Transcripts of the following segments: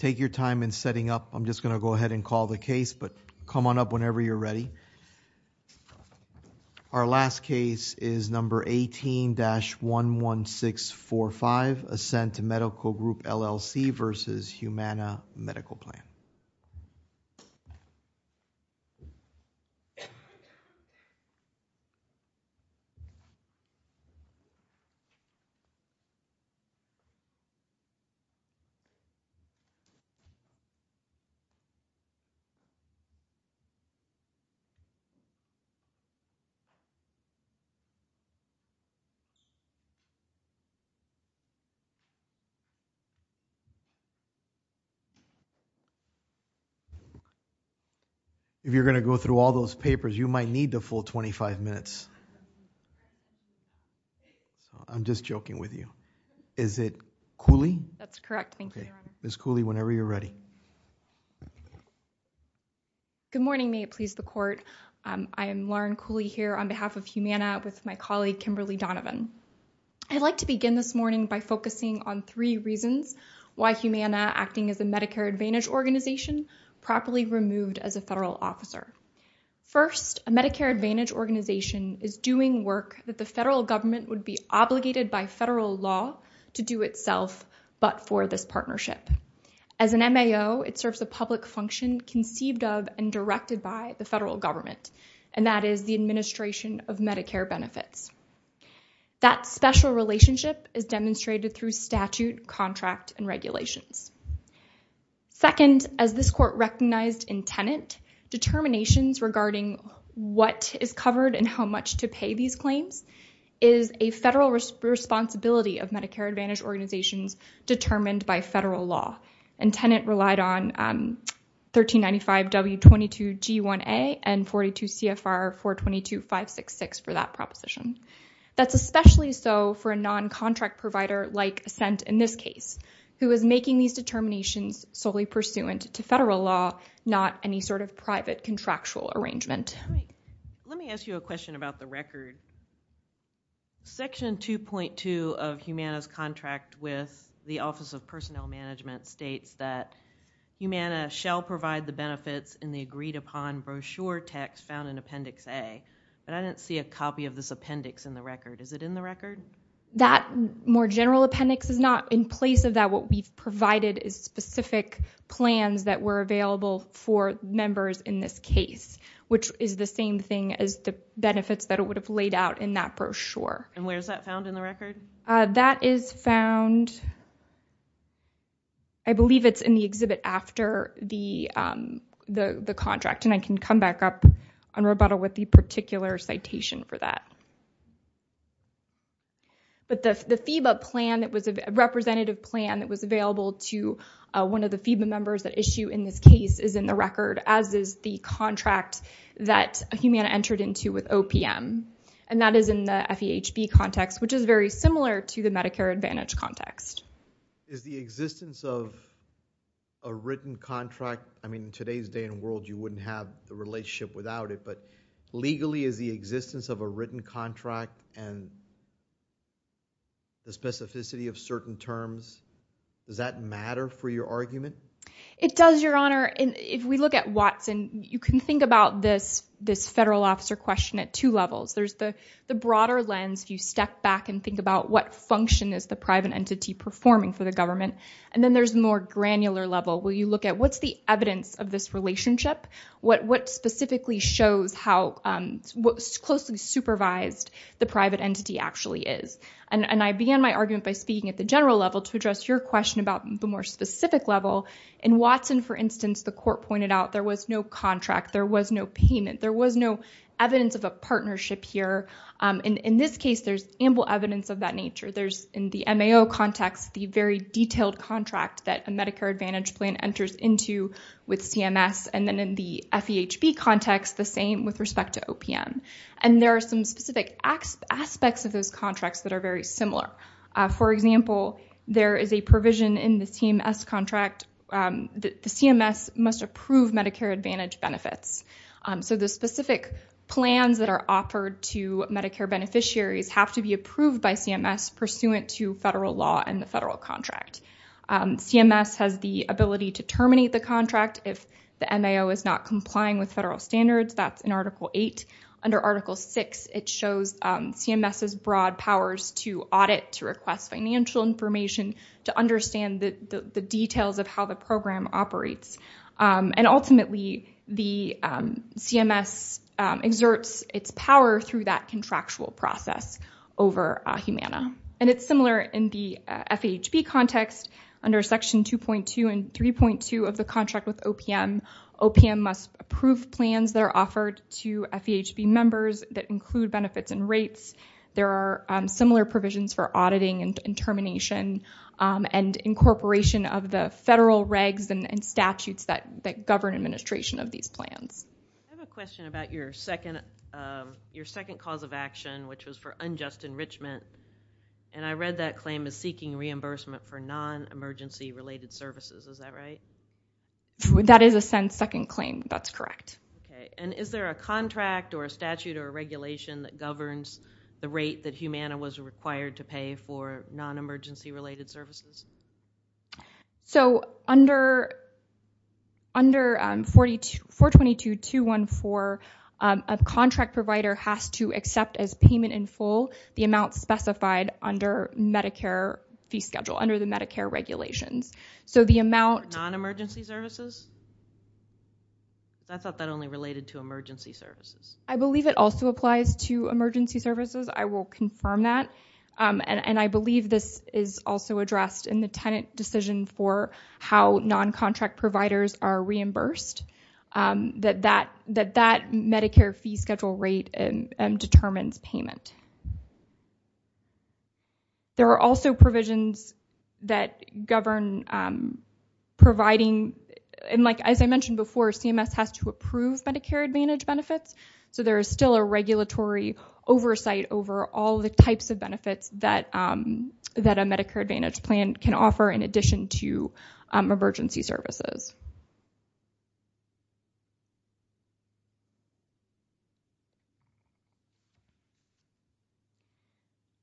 Take your time in setting up. I'm just gonna go ahead and call the case, but come on up whenever you're ready. Our last case is number 18-11645, Ascent Medical Group, LLC versus Humana Medical Plan. If you're gonna go through all those papers, you might need the full 25 minutes. I'm just joking with you. Is it Cooley? That's correct, thank you, Your Honor. Ms. Cooley, whenever you're ready. Good morning, may it please the court. I am Lauren Cooley here on behalf of Humana with my colleague, Kimberly Donovan. I'd like to begin this morning by focusing on three reasons why Humana, acting as a Medicare Advantage organization, properly removed as a federal officer. First, a Medicare Advantage organization is doing work that the federal government would be obligated by federal law to do itself, but for this partnership. As an MAO, it serves a public function conceived of and directed by the federal government, and that is the administration of Medicare benefits. That special relationship is demonstrated through statute, contract, and regulations. Second, as this court recognized in tenant, determinations regarding what is covered and how much to pay these claims is a federal responsibility of Medicare Advantage organizations determined by federal law, and tenant relied on 1395W22G1A and 42CFR422566 for that proposition. That's especially so for a non-contract provider like Ascent in this case, who is making these determinations solely pursuant to federal law, not any sort of private contractual arrangement. All right, let me ask you a question about the record. Section 2.2 of Humana's contract with the Office of Personnel Management states that Humana shall provide the benefits in the agreed upon brochure text found in Appendix A, but I didn't see a copy of this appendix in the record. Is it in the record? That more general appendix is not in place of that. What we've provided is specific plans that were available for members in this case, which is the same thing as the benefits that it would have laid out in that brochure. And where is that found in the record? That is found, I believe it's in the exhibit after the contract, and I can come back up on rebuttal with the particular citation for that. But the FEBA plan that was a representative plan that was available to one of the FEBA members that issue in this case is in the record, as is the contract that Humana entered into with OPM. And that is in the FEHB context, which is very similar to the Medicare Advantage context. Is the existence of a written contract, I mean in today's day and world you wouldn't have the relationship without it, but legally is the existence of a written contract and the specificity of certain terms, does that matter for your argument? It does, Your Honor. And if we look at Watson, you can think about this federal officer question at two levels. There's the broader lens, if you step back and think about what function is the private entity performing for the government, and then there's more granular level where you look at what's the evidence of this relationship? What specifically shows how, what closely supervised the private entity actually is? And I began my argument by speaking at the general level to address your question about the more specific level. In Watson, for instance, the court pointed out there was no contract, there was no payment, there was no evidence of a partnership here. In this case, there's ample evidence of that nature. There's in the MAO context, the very detailed contract that a Medicare Advantage plan enters into with CMS. And then in the FEHB context, the same with respect to OPM. And there are some specific aspects of those contracts that are very similar. For example, there is a provision in the CMS contract that the CMS must approve Medicare Advantage benefits. So the specific plans that are offered to Medicare beneficiaries have to be approved by CMS pursuant to federal law and the federal contract. CMS has the ability to terminate the contract if the MAO is not complying with federal standards, that's in Article VIII. Under Article VI, it shows CMS's broad powers to audit, to request financial information, to understand the details of how the program operates. And ultimately, the CMS exerts its power through that contractual process over Humana. And it's similar in the FEHB context under Section 2.2 and 3.2 of the contract with OPM. OPM must approve plans that are offered to FEHB members that include benefits and rates. There are similar provisions for auditing and termination and incorporation of the federal regs and statutes that govern administration of these plans. I have a question about your second cause of action, which was for unjust enrichment. And I read that claim as seeking reimbursement for non-emergency related services, is that right? That is a second claim, that's correct. Okay, and is there a contract or a statute or a regulation that governs the rate that Humana was required to pay for non-emergency related services? So under 422.214, a contract provider has to accept as payment in full the amount specified under Medicare fee schedule, under the Medicare regulations. So the amount- For non-emergency services? I thought that only related to emergency services. I believe it also applies to emergency services. I will confirm that. And I believe this is also addressed in the tenant decision for how non-contract providers are reimbursed, that that Medicare fee schedule rate determines payment. There are also provisions that govern providing, and like, as I mentioned before, CMS has to approve Medicare Advantage benefits. So there is still a regulatory oversight over all the types of benefits that a Medicare Advantage plan can offer in addition to emergency services.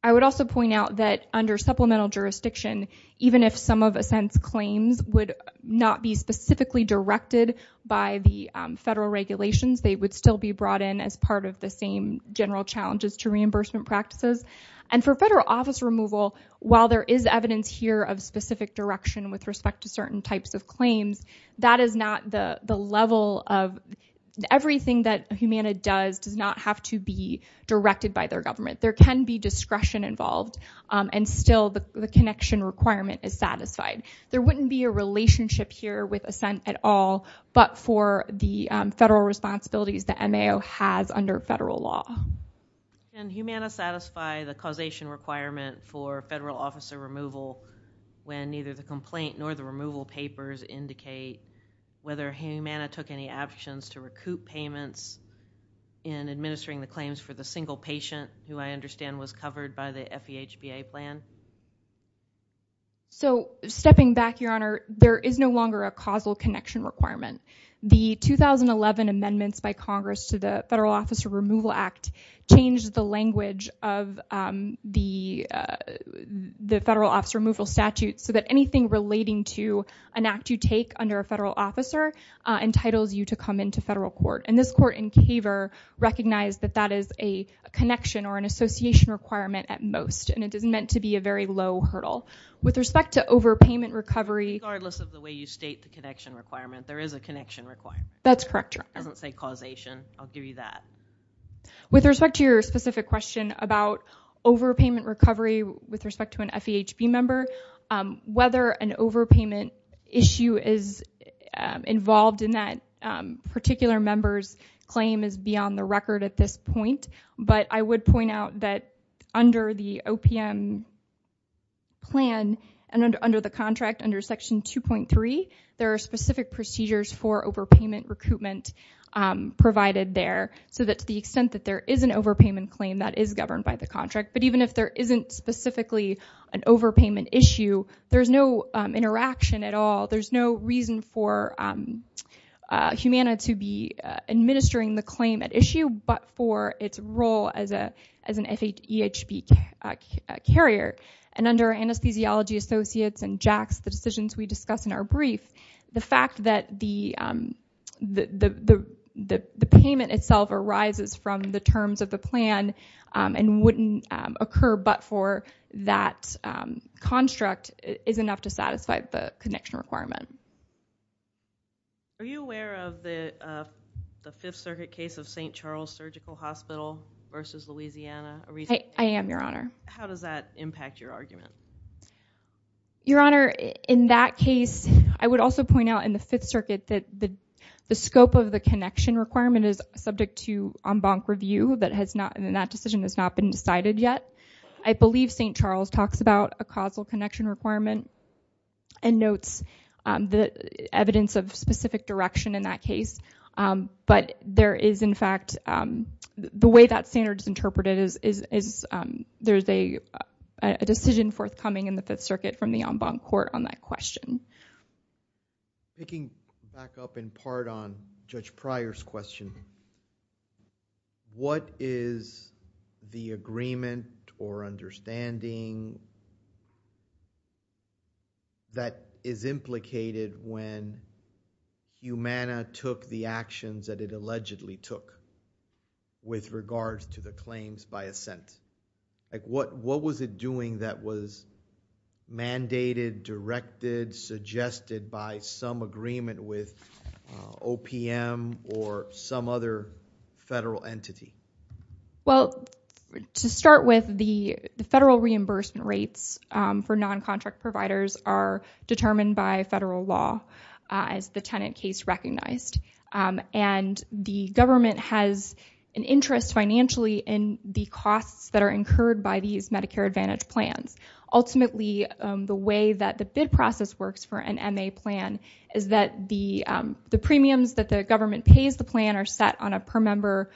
I would also point out that under supplemental jurisdiction, even if some of a sense claims would not be specifically directed by the federal regulations, they would still be brought in as part of the same general challenges to reimbursement practices. And for federal office removal, while there is evidence here of specific direction with respect to certain types of claims, that is not the level of, everything that Humana does does not have to be directed by their government. There can be discretion involved, and still the connection requirement is satisfied. There wouldn't be a relationship here with assent at all, but for the federal responsibilities that MAO has under federal law. And Humana satisfy the causation requirement for federal officer removal when neither the complaint nor the removal papers indicate whether Humana took any actions to recoup payments in administering the claims for the single patient, who I understand was covered by the FEHBA plan? So stepping back, Your Honor, there is no longer a causal connection requirement. The 2011 amendments by Congress to the Federal Officer Removal Act changed the language of the federal officer removal statute so that anything relating to an act you take under a federal officer entitles you to come into federal court. And this court in Caver recognized that that is a connection or an association requirement at most. And it is meant to be a very low hurdle. With respect to overpayment recovery. Regardless of the way you state the connection requirement, there is a connection requirement. That's correct, Your Honor. It doesn't say causation. I'll give you that. With respect to your specific question about overpayment recovery with respect to an FEHB member, whether an overpayment issue is involved in that particular member's claim is beyond the record at this point. But I would point out that under the OPM plan and under the contract, under section 2.3, there are specific procedures for overpayment recoupment provided there. So that to the extent that there is an overpayment claim that is governed by the contract, but even if there isn't specifically an overpayment issue, there's no interaction at all. There's no reason for Humana to be administering the claim at issue, but for its role as an FEHB carrier. And under anesthesiology associates and JAX, the decisions we discuss in our brief, the fact that the payment itself arises from the terms of the plan and wouldn't occur, but for that construct is enough to satisfy the connection requirement. Are you aware of the Fifth Circuit case of St. Charles Surgical Hospital versus Louisiana? I am, Your Honor. How does that impact your argument? Your Honor, in that case, I would also point out in the Fifth Circuit that the scope of the connection requirement is subject to en banc review, and that decision has not been decided yet. I believe St. Charles talks about a causal connection requirement and notes the evidence of specific direction in that case, but there is, in fact, the way that standard is interpreted is there's a decision forthcoming in the Fifth Circuit from the en banc court on that question. Taking back up in part on Judge Pryor's question, what is the agreement or understanding that is implicated when Umana took the actions that it allegedly took with regards to the claims by assent? What was it doing that was mandated, directed, suggested by some agreement with OPM or some other federal entity? Well, to start with, the federal reimbursement rates for non-contract providers are determined by federal law as the tenant case recognized, and the government has an interest financially in the costs that are incurred by these Medicare Advantage plans. Ultimately, the way that the bid process works for an MA plan is that the premiums that the government pays the plan are set on a per-member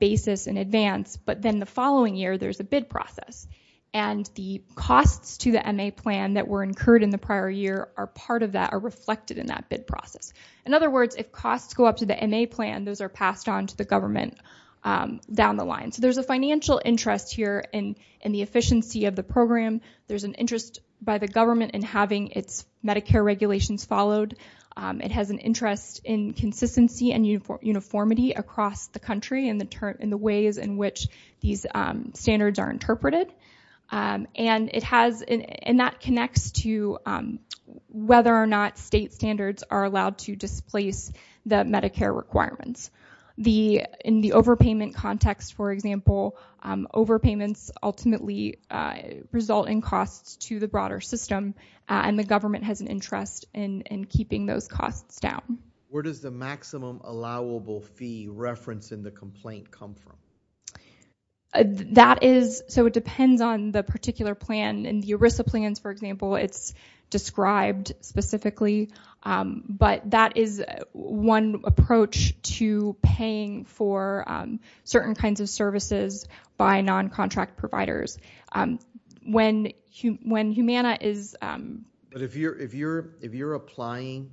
basis in advance, but then the following year, there's a bid process, and the costs to the MA plan that were incurred in the prior year are part of that, are reflected in that bid process. In other words, if costs go up to the MA plan, those are passed on to the government down the line. So there's a financial interest here in the efficiency of the program. There's an interest by the government in having its Medicare regulations followed. It has an interest in consistency and uniformity across the country and the ways in which these standards are interpreted, and that connects to whether or not state standards are allowed to displace the Medicare requirements. In the overpayment context, for example, overpayments ultimately result in costs to the broader system, and the government has an interest in keeping those costs down. Where does the maximum allowable fee referenced in the complaint come from? So it depends on the particular plan. In the ERISA plans, for example, it's described specifically, but that is one approach to paying for certain kinds of services by non-contract providers. When Humana is... But if you're applying...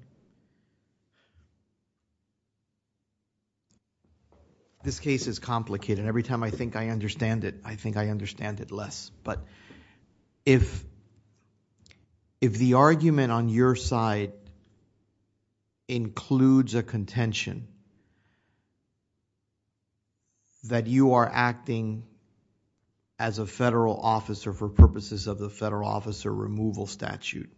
This case is complicated. Every time I think I understand it, I think I understand it less, but if the argument on your side includes a contention that you are acting as a federal officer for purposes of the federal officer removal statute,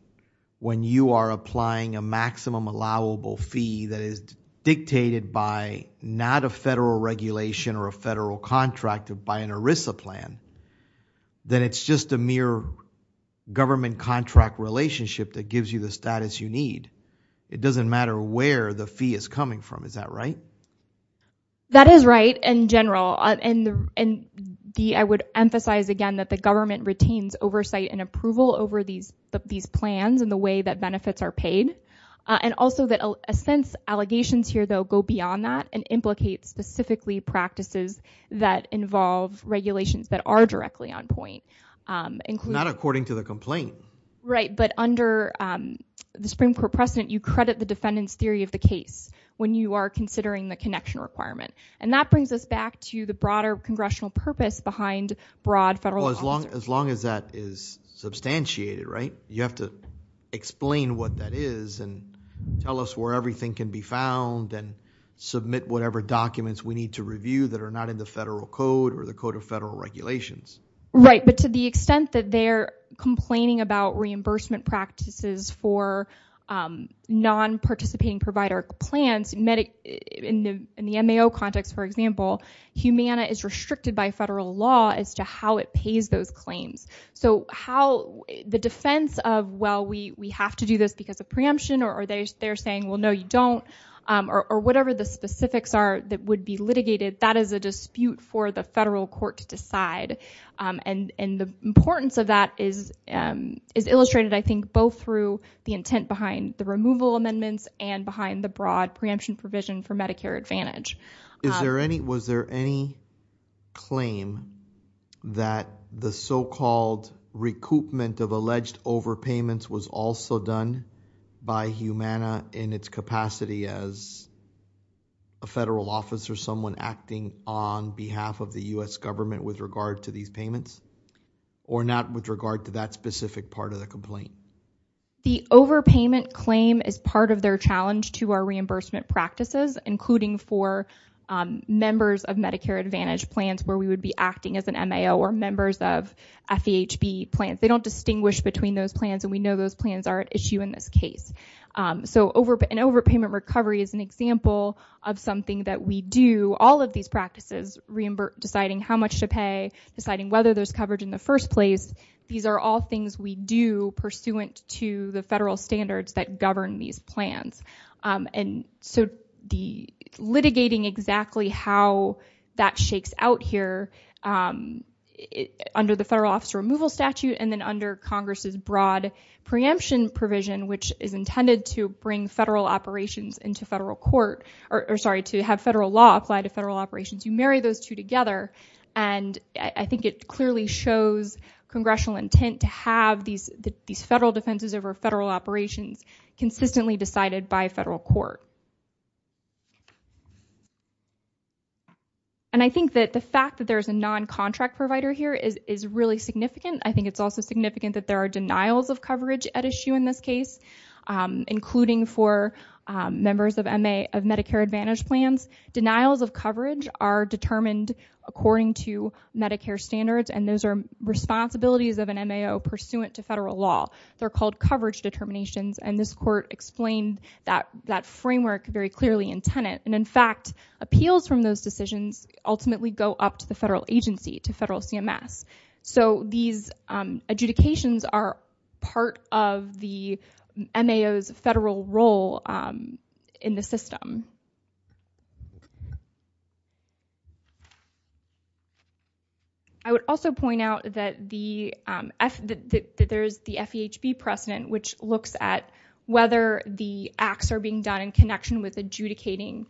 when you are applying a maximum allowable fee that is dictated by not a federal regulation or a federal contract by an ERISA plan, then it's just a mere government contract relationship that gives you the status you need. It doesn't matter where the fee is coming from. Is that right? That is right, in general. And I would emphasize again that the government retains oversight and approval over these plans and the way that benefits are paid. And also that since allegations here, though, go beyond that and implicate specifically practices that involve regulations that are directly on point, including... Not according to the complaint. Right, but under the Supreme Court precedent, you credit the defendant's theory of the case when you are considering the connection requirement. And that brings us back to the broader congressional purpose behind broad federal law. As long as that is substantiated, right? You have to explain what that is and tell us where everything can be found and submit whatever documents we need to review that are not in the federal code or the Code of Federal Regulations. Right, but to the extent that they're complaining about reimbursement practices for non-participating provider plans, in the MAO context, for example, Humana is restricted by federal law as to how it pays those claims. So how the defense of, well, we have to do this because of preemption or they're saying, well, no, you don't, or whatever the specifics are that would be litigated, that is a dispute for the federal court to decide. And the importance of that is illustrated, I think, both through the intent behind the removal amendments and behind the broad preemption provision for Medicare Advantage. Is there any, was there any claim that the so-called recoupment of alleged overpayments was also done by Humana in its capacity as a federal officer, someone acting on behalf of the US government with regard to these payments or not with regard to that specific part of the complaint? The overpayment claim is part of their challenge to our reimbursement practices, including for members of Medicare Advantage plans where we would be acting as an MAO or members of FEHB plans. They don't distinguish between those plans and we know those plans are at issue in this case. So an overpayment recovery is an example of something that we do, all of these practices, deciding how much to pay, deciding whether there's coverage in the first place, these are all things we do pursuant to the federal standards that govern these plans. And so the litigating exactly how that shakes out here under the federal officer removal statute and then under Congress's broad preemption provision, which is intended to bring federal operations into federal court, or sorry, to have federal law apply to federal operations, you marry those two together and I think it clearly shows congressional intent to have these federal defenses over federal operations consistently decided by federal court. And I think that the fact that there's a non-contract provider here is really significant. I think it's also significant that there are denials of coverage at issue in this case, including for members of Medicare Advantage plans. Denials of coverage are determined according to Medicare standards and those are responsibilities of an MAO pursuant to federal law. They're called coverage determinations and this court explained that framework very clearly in Tenet. And in fact, appeals from those decisions ultimately go up to the federal agency, to federal CMS. So these adjudications are part of the MAO's federal role in the system. Thank you. I would also point out that there's the FEHB precedent which looks at whether the acts are being done in connection with adjudicating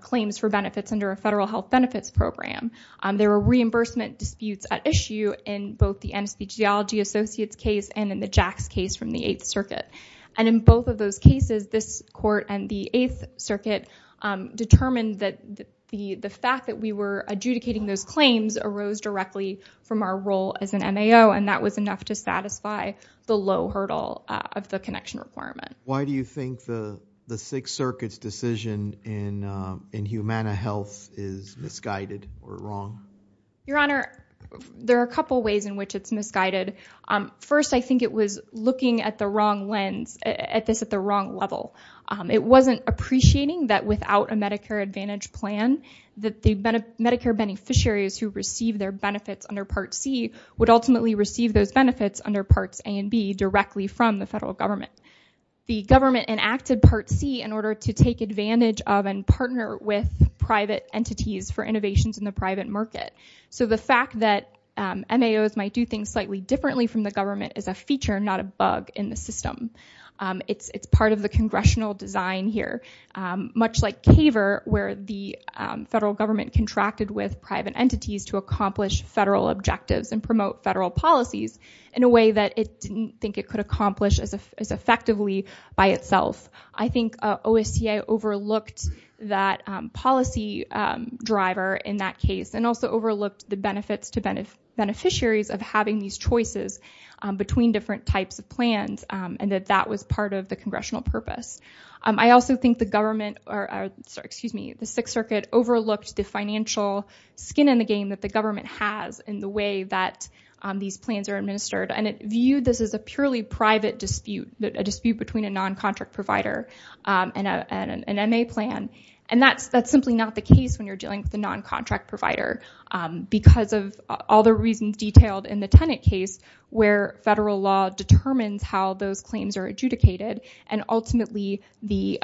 claims for benefits under a federal health benefits program. There are reimbursement disputes at issue in both the NSB Geology Associates case and in the JACS case from the Eighth Circuit. And in both of those cases, this court and the Eighth Circuit determined that the fact that we were adjudicating those claims arose directly from our role as an MAO and that was enough to satisfy the low hurdle of the connection requirement. Why do you think the Sixth Circuit's decision in Humana Health is misguided or wrong? Your Honor, there are a couple ways in which it's misguided. First, I think it was looking at the wrong lens, at this at the wrong level. It wasn't appreciating that without a Medicare Advantage plan, that the Medicare beneficiaries who receive their benefits under Part C would ultimately receive those benefits under Parts A and B directly from the federal government. The government enacted Part C in order to take advantage of and partner with private entities for innovations in the private market. So the fact that MAOs might do things slightly differently from the government is a feature, not a bug in the system. It's part of the congressional design here, much like CAVER, where the federal government contracted with private entities to accomplish federal objectives and promote federal policies in a way that it didn't think it could accomplish as effectively by itself. I think OSCA overlooked that policy driver in that case and also overlooked the benefits to beneficiaries of having these choices between different types of plans and that that was part of the congressional purpose. I also think the government, excuse me, the Sixth Circuit overlooked the financial skin in the game that the government has in the way that these plans are administered and it viewed this as a purely private dispute, a dispute between a non-contract provider and an MA plan. And that's simply not the case when you're dealing with a non-contract provider because of all the reasons detailed in the tenant case where federal law determines how those claims are adjudicated and ultimately the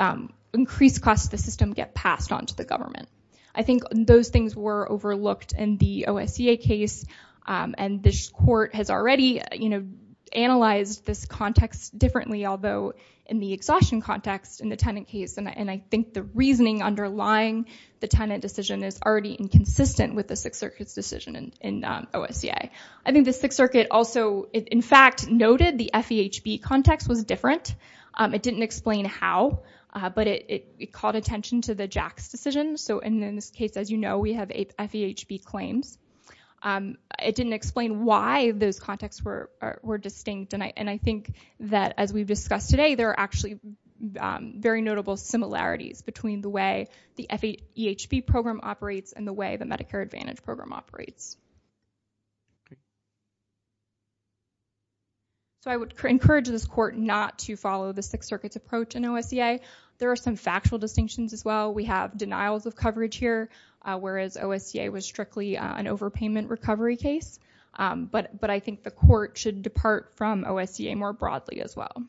increased cost of the system get passed on to the government. I think those things were overlooked in the OSCA case and this court has already analyzed this context differently although in the exhaustion context in the tenant case and I think the reasoning underlying the tenant decision is already inconsistent with the Sixth Circuit's decision in OSCA. I think the Sixth Circuit also, in fact, noted the FEHB context was different. It didn't explain how but it called attention to the JACS decision. So in this case, as you know, we have FEHB claims. It didn't explain why those contexts were distinct and I think that as we've discussed today, there are actually very notable similarities between the way the FEHB program operates and the way the Medicare Advantage program operates. Okay. So I would encourage this court not to follow the Sixth Circuit's approach in OSCA. There are some factual distinctions as well. We have denials of coverage here whereas OSCA was strictly an overpayment recovery case but I think the court should depart from OSCA more broadly as well.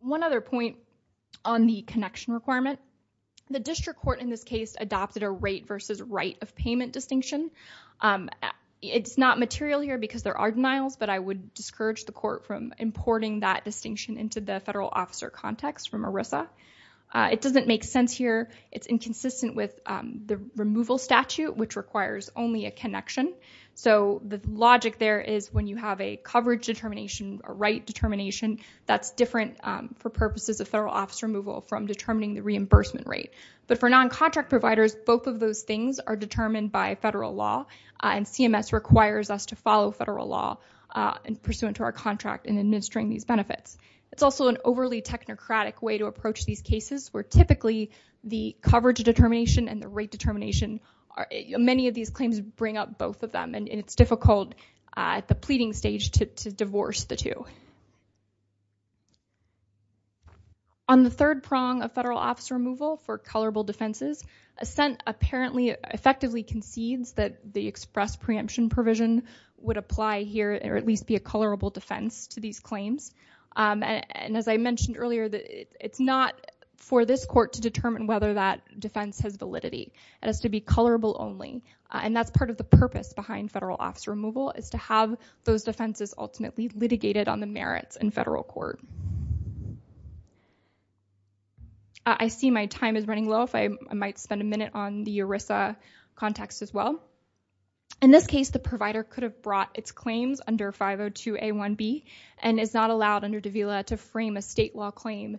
One other point on the connection requirement. The district court in this case adopted a rate versus right of payment distinction. It's not material here because there are denials but I would discourage the court from importing that distinction into the federal officer context from ERISA. It doesn't make sense here. It's inconsistent with the removal statute which requires only a connection. So the logic there is when you have a coverage determination, a right determination, that's different for purposes of federal officer removal from determining the reimbursement rate. But for non-contract providers, both of those things are determined by federal law and CMS requires us to follow federal law pursuant to our contract in administering these benefits. It's also an overly technocratic way to approach these cases where typically the coverage determination and the rate determination, many of these claims bring up both of them and it's difficult at the pleading stage to divorce the two. On the third prong of federal officer removal for colorable defenses, assent apparently effectively concedes that the express preemption provision would apply here or at least be a colorable defense to these claims. And as I mentioned earlier, it's not for this court to determine whether that defense has validity. It has to be colorable only. And that's part of the purpose behind federal officer removal is to have those defenses ultimately litigated on the merits in federal court. I see my time is running low. If I might spend a minute on the ERISA context as well. In this case, the provider could have brought its claims under 502A1B and is not allowed under Davila to frame a state law claim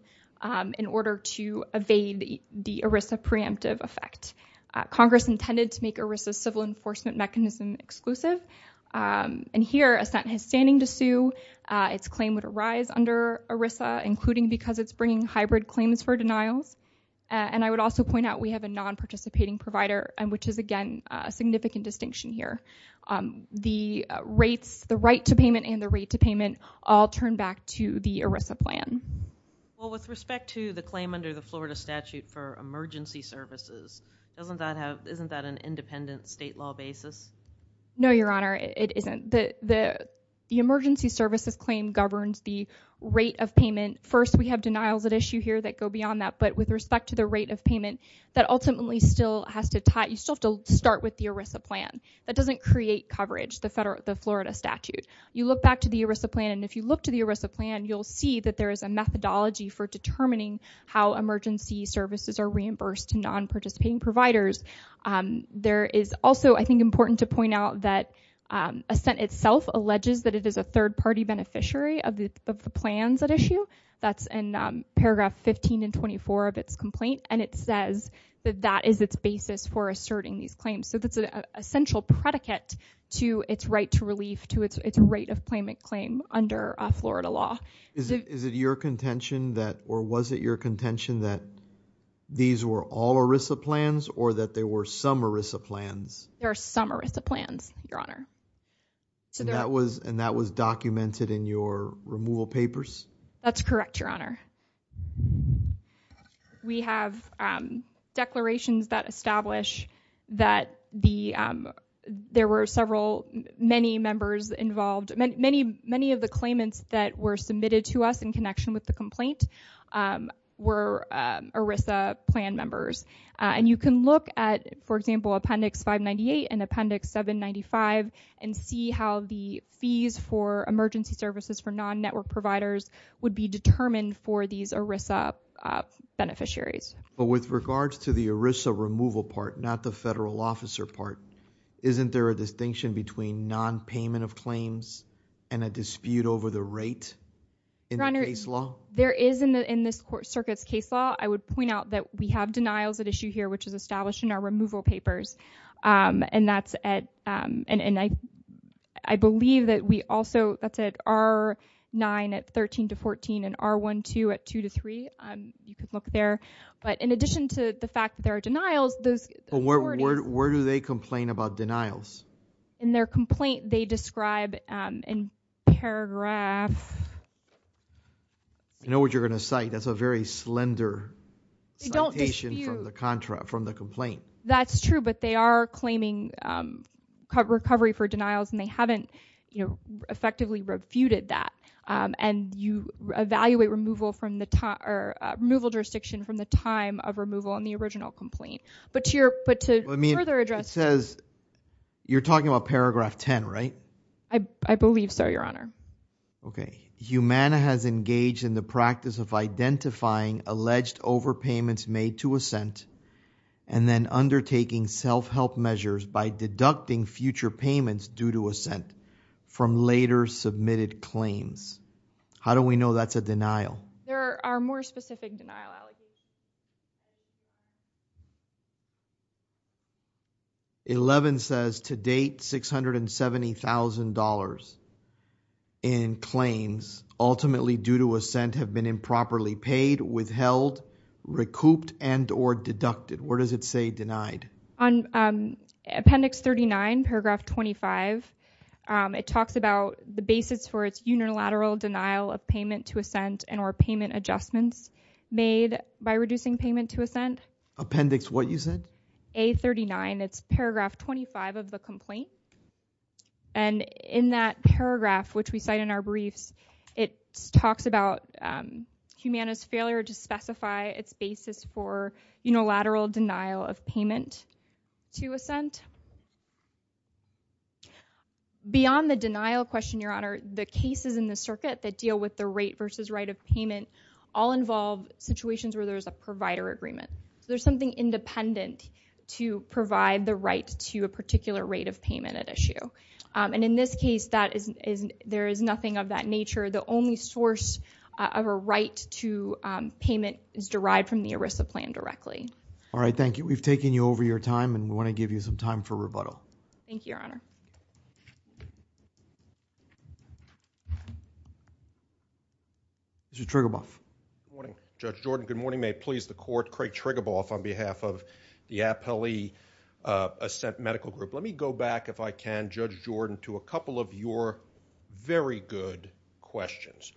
in order to evade the ERISA preemptive effect. Congress intended to make ERISA civil enforcement mechanism exclusive. And here assent has standing to sue. Its claim would arise under ERISA, including because it's bringing hybrid claims for denials. And I would also point out we have a non-participating provider, and which is again, a significant distinction here. The rates, the right to payment and the rate to payment all turn back to the ERISA plan. Well, with respect to the claim under the Florida statute for emergency services, doesn't that have, isn't that an independent state law basis? No, Your Honor, it isn't. The emergency services claim governs the rate of payment. First, we have denials at issue here that go beyond that, but with respect to the rate of payment, that ultimately still has to tie, you still have to start with the ERISA plan. That doesn't create coverage, the Florida statute. You look back to the ERISA plan, and if you look to the ERISA plan, you'll see that there is a methodology for determining how emergency services are reimbursed to non-participating providers. There is also, I think, important to point out that Assent itself alleges that it is a third-party beneficiary of the plans at issue. That's in paragraph 15 and 24 of its complaint, and it says that that is its basis for asserting these claims. So that's an essential predicate to its right to relief, to its rate of payment claim under Florida law. Is it your contention that, or was it your contention that these were all ERISA plans, or that there were some ERISA plans? There are some ERISA plans, Your Honor. And that was documented in your removal papers? That's correct, Your Honor. We have declarations that establish that there were several, many members involved. Many of the claimants that were submitted to us in connection with the complaint were ERISA plan members. And you can look at, for example, Appendix 598 and Appendix 795, and see how the fees for emergency services for non-network providers would be determined for these ERISA beneficiaries. But with regards to the ERISA removal part, not the federal officer part, isn't there a distinction between non-payment of claims and a dispute over the rate in the case law? There is in this circuit's case law. I would point out that we have denials at issue here, which is established in our removal papers. I believe that we also, that's at R9 at 13 to 14, and R12 at two to three. You could look there. But in addition to the fact that there are denials, those authorities- Where do they complain about denials? In their complaint, they describe in paragraph... I know what you're gonna cite. That's a very slender citation from the complaint. That's true, but they are claiming recovery for denials, and they haven't effectively refuted that. And you evaluate removal jurisdiction from the time of removal in the original complaint. But to further address- It says, you're talking about paragraph 10, right? I believe so, Your Honor. Okay. Humana has engaged in the practice of identifying alleged overpayments made to assent, and then undertaking self-help measures by deducting future payments due to assent from later submitted claims. How do we know that's a denial? There are more specific denial allegations. 11 says, to date, $670,000 in claims, ultimately due to assent, have been improperly paid, withheld, recouped, and or deducted. Where does it say denied? On appendix 39, paragraph 25, it talks about the basis for its unilateral denial of payment to assent and or payment adjustments made by reducing payment to assent. Appendix what, you said? A39, it's paragraph 25 of the complaint. And in that paragraph, which we cite in our briefs, it talks about Humana's failure to specify its basis for unilateral denial of payment to assent. Beyond the denial question, Your Honor, the cases in the circuit that deal with the rate versus right of payment all involve situations where there's a provider agreement. There's something independent to provide the right to a particular rate of payment at issue. And in this case, there is nothing of that nature. The only source of a right to payment is derived from the ERISA plan directly. All right, thank you. We've taken you over your time, and we want to give you some time for rebuttal. Thank you, Your Honor. Judge Triguboff. Good morning, Judge Jordan. Good morning. May it please the court, Craig Triguboff, on behalf of the Appellee Assent Medical Group. Let me go back, if I can, Judge Jordan, to a couple of your very good questions.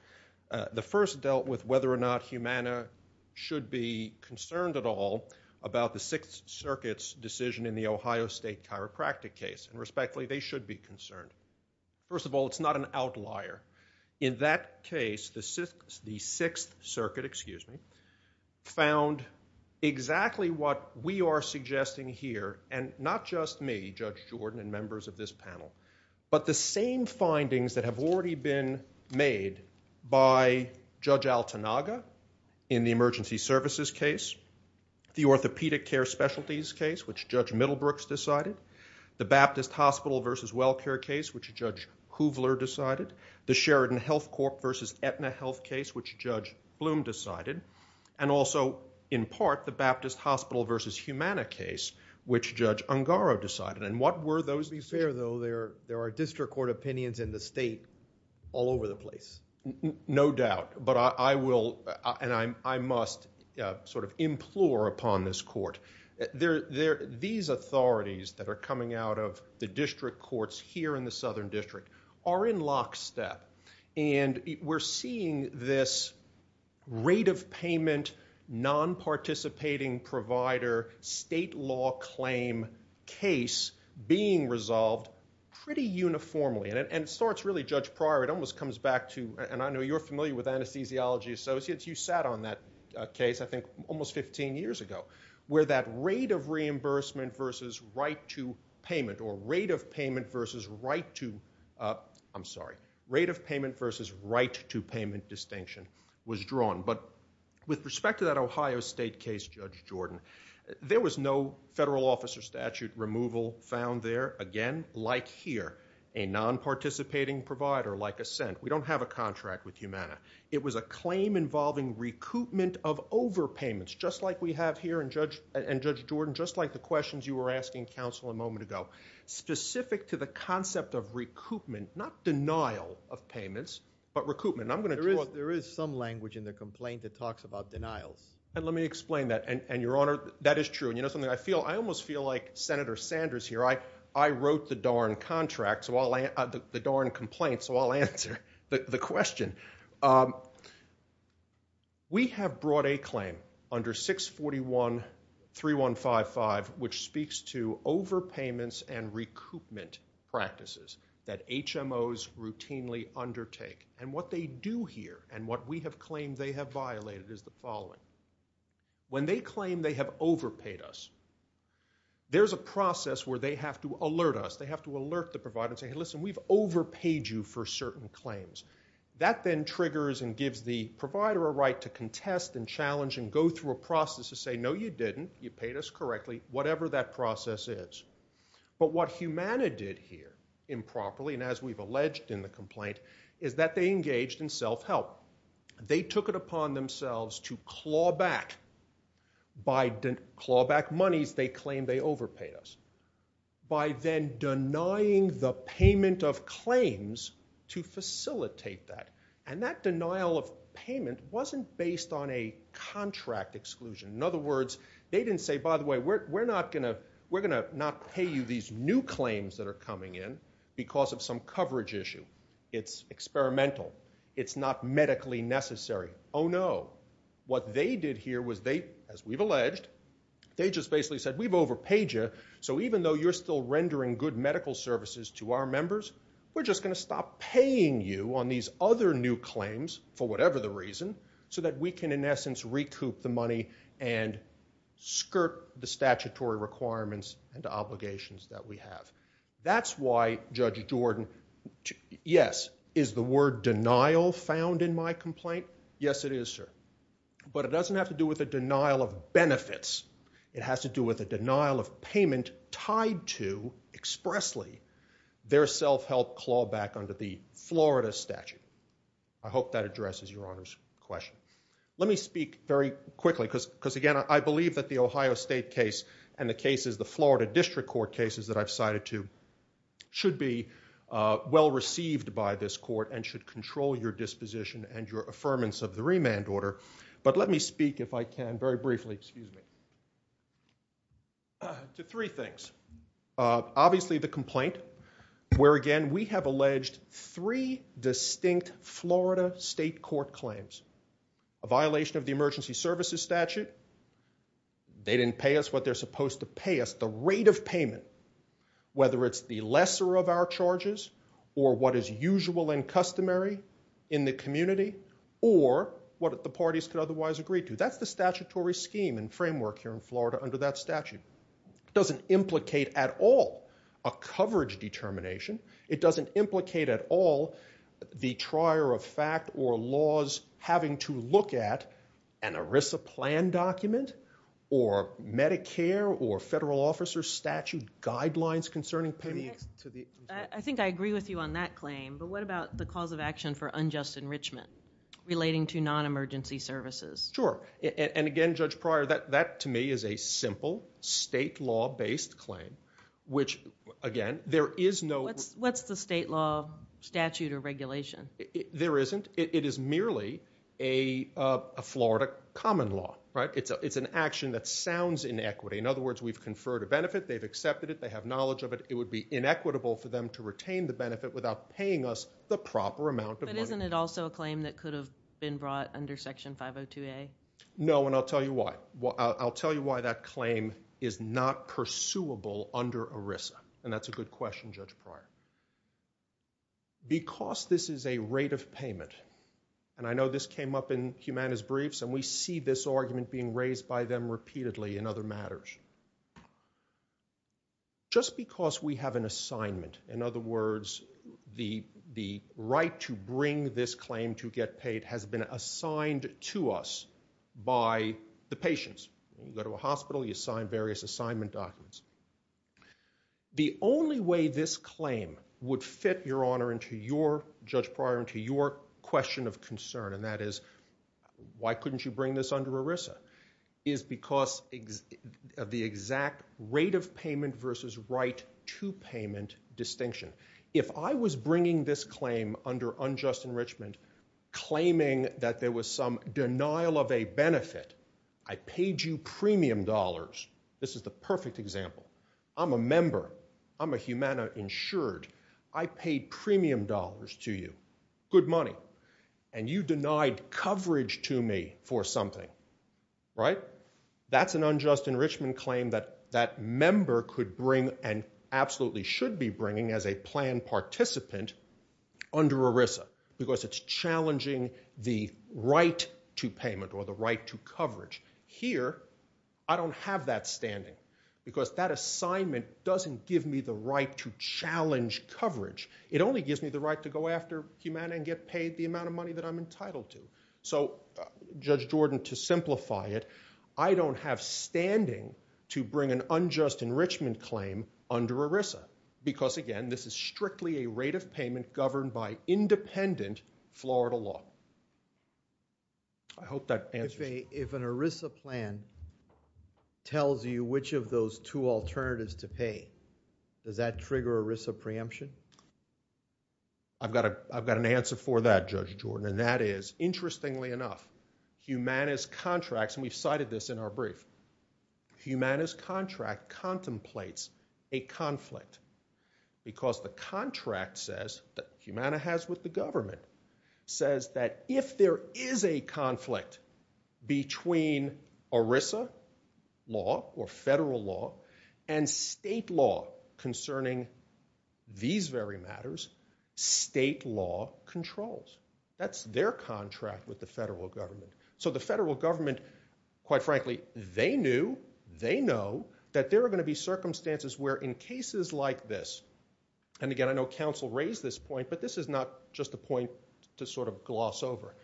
The first dealt with whether or not Humana should be concerned at all about the Sixth Circuit's decision in the Ohio State chiropractic case. And respectfully, they should be concerned. First of all, it's not an outlier. In that case, the Sixth Circuit, excuse me, found exactly what we are suggesting here, and not just me, Judge Jordan, and members of this panel, but the same findings that have already been made by Judge Altanaga in the emergency services case, the orthopedic care specialties case, which Judge Middlebrooks decided, the Baptist Hospital versus WellCare case, which Judge Hoovler decided, the Sheridan Health Corp versus Aetna Health case, which Judge Bloom decided, and also, in part, the Baptist Hospital versus Humana case, which Judge Ungaro decided. And what were those decisions? It would be fair, though, there are district court opinions in the state all over the place. No doubt, but I will, and I must, sort of implore upon this court. These authorities that are coming out of the district courts here in the Southern District are in lockstep. And we're seeing this rate of payment, non-participating provider, state law claim case being resolved pretty uniformly. And it starts really, Judge Pryor, it almost comes back to, and I know you're familiar with Anesthesiology Associates, you sat on that case, I think, almost 15 years ago, where that rate of reimbursement versus right to payment, or rate of payment versus right to, I'm sorry, rate of payment versus right to payment distinction was drawn. But with respect to that Ohio State case, Judge Jordan, there was no federal officer statute removal found there. Again, like here, a non-participating provider, like Ascent. We don't have a contract with Humana. It was a claim involving recoupment of overpayments, just like we have here, and Judge Jordan, just like the questions you were asking counsel a moment ago, specific to the concept of recoupment, not denial of payments, but recoupment. And I'm gonna draw. There is some language in the complaint that talks about denials. And let me explain that. And Your Honor, that is true. And you know something? I almost feel like Senator Sanders here. I wrote the darn complaint, so I'll answer the question. We have brought a claim under 641.3155, which speaks to overpayments and recoupment practices that HMOs routinely undertake. And what they do here, and what we have claimed they have violated, is the following. When they claim they have overpaid us, there's a process where they have to alert us. They have to alert the provider and say, hey, listen, we've overpaid you for certain claims. That then triggers and gives the provider a right to contest and challenge and go through a process to say, no, you didn't. You paid us correctly, whatever that process is. But what Humana did here improperly, and as we've alleged in the complaint, is that they engaged in self-help. They took it upon themselves to claw back. By claw back monies they claim they overpaid us. By then denying the payment of claims to facilitate that. And that denial of payment wasn't based on a contract exclusion. In other words, they didn't say, by the way, we're not gonna pay you these new claims that are coming in because of some coverage issue. It's experimental. It's not medically necessary. Oh, no. What they did here was they, as we've alleged, they just basically said, we've overpaid you, so even though you're still rendering good medical services to our members, we're just gonna stop paying you on these other new claims, for whatever the reason, so that we can, in essence, recoup the money and skirt the statutory requirements and obligations that we have. That's why Judge Jordan, yes, is the word denial found in my complaint? Yes, it is, sir. But it doesn't have to do with a denial of benefits. It has to do with a denial of payment tied to, expressly, their self-help claw back under the Florida statute. I hope that addresses Your Honor's question. Let me speak very quickly, because again, I believe that the Ohio State case and the cases, the Florida District Court cases that I've cited to, should be well-received by this court and should control your disposition and your affirmance of the remand order. But let me speak, if I can, very briefly, excuse me, to three things. Obviously, the complaint, where again, we have alleged three distinct Florida state court claims. A violation of the emergency services statute. They didn't pay us what they're supposed to pay us. The rate of payment, whether it's the lesser of our charges or what is usual and customary in the community or what the parties could otherwise agree to. That's the statutory scheme and framework here in Florida under that statute. It doesn't implicate at all a coverage determination. It doesn't implicate at all the trier of fact or laws having to look at an ERISA plan document or Medicare or federal officer statute guidelines concerning payment. I think I agree with you on that claim, but what about the cause of action for unjust enrichment relating to non-emergency services? Sure, and again, Judge Pryor, that to me is a simple state law-based claim, which again, there is no. What's the state law statute or regulation? There isn't. It is merely a Florida common law. It's an action that sounds inequity. In other words, we've conferred a benefit. They've accepted it. They have knowledge of it. It would be inequitable for them to retain the benefit without paying us the proper amount of money. But isn't it also a claim that could have been brought under section 502A? No, and I'll tell you why. I'll tell you why that claim is not pursuable under ERISA, and that's a good question, Judge Pryor. Because this is a rate of payment, and I know this came up in Humana's briefs, and we see this argument being raised by them repeatedly in other matters. Just because we have an assignment, in other words, the right to bring this claim to get paid has been assigned to us by the patients. You go to a hospital, you sign various assignment documents. The only way this claim would fit, Your Honor, into your, Judge Pryor, into your question of concern, and that is, why couldn't you bring this under ERISA, is because of the exact rate of payment versus right to payment distinction. If I was bringing this claim under unjust enrichment, claiming that there was some denial of a benefit, I paid you premium dollars. This is the perfect example. I'm a member, I'm a Humana insured. I paid premium dollars to you, good money, and you denied coverage to me for something, right? That's an unjust enrichment claim that that member could bring, and absolutely should be bringing as a planned participant under ERISA, because it's challenging the right to payment or the right to coverage. Here, I don't have that standing, because that assignment doesn't give me the right to challenge coverage. It only gives me the right to go after Humana and get paid the amount of money that I'm entitled to. So, Judge Jordan, to simplify it, I don't have standing to bring an unjust enrichment claim under ERISA, because again, this is strictly a rate of payment governed by independent Florida law. I hope that answers. If an ERISA plan tells you which of those two alternatives to pay, does that trigger ERISA preemption? I've got an answer for that, Judge Jordan, and that is, interestingly enough, Humana's contracts, and we've cited this in our brief, Humana's contract contemplates a conflict, because the contract says, that Humana has with the government, says that if there is a conflict between ERISA law or federal law and state law concerning these very matters, state law controls. That's their contract with the federal government. So, the federal government, quite frankly, they knew, they know, that there are gonna be circumstances where in cases like this, and again, I know counsel raised this point, but this is not just a point to sort of gloss over.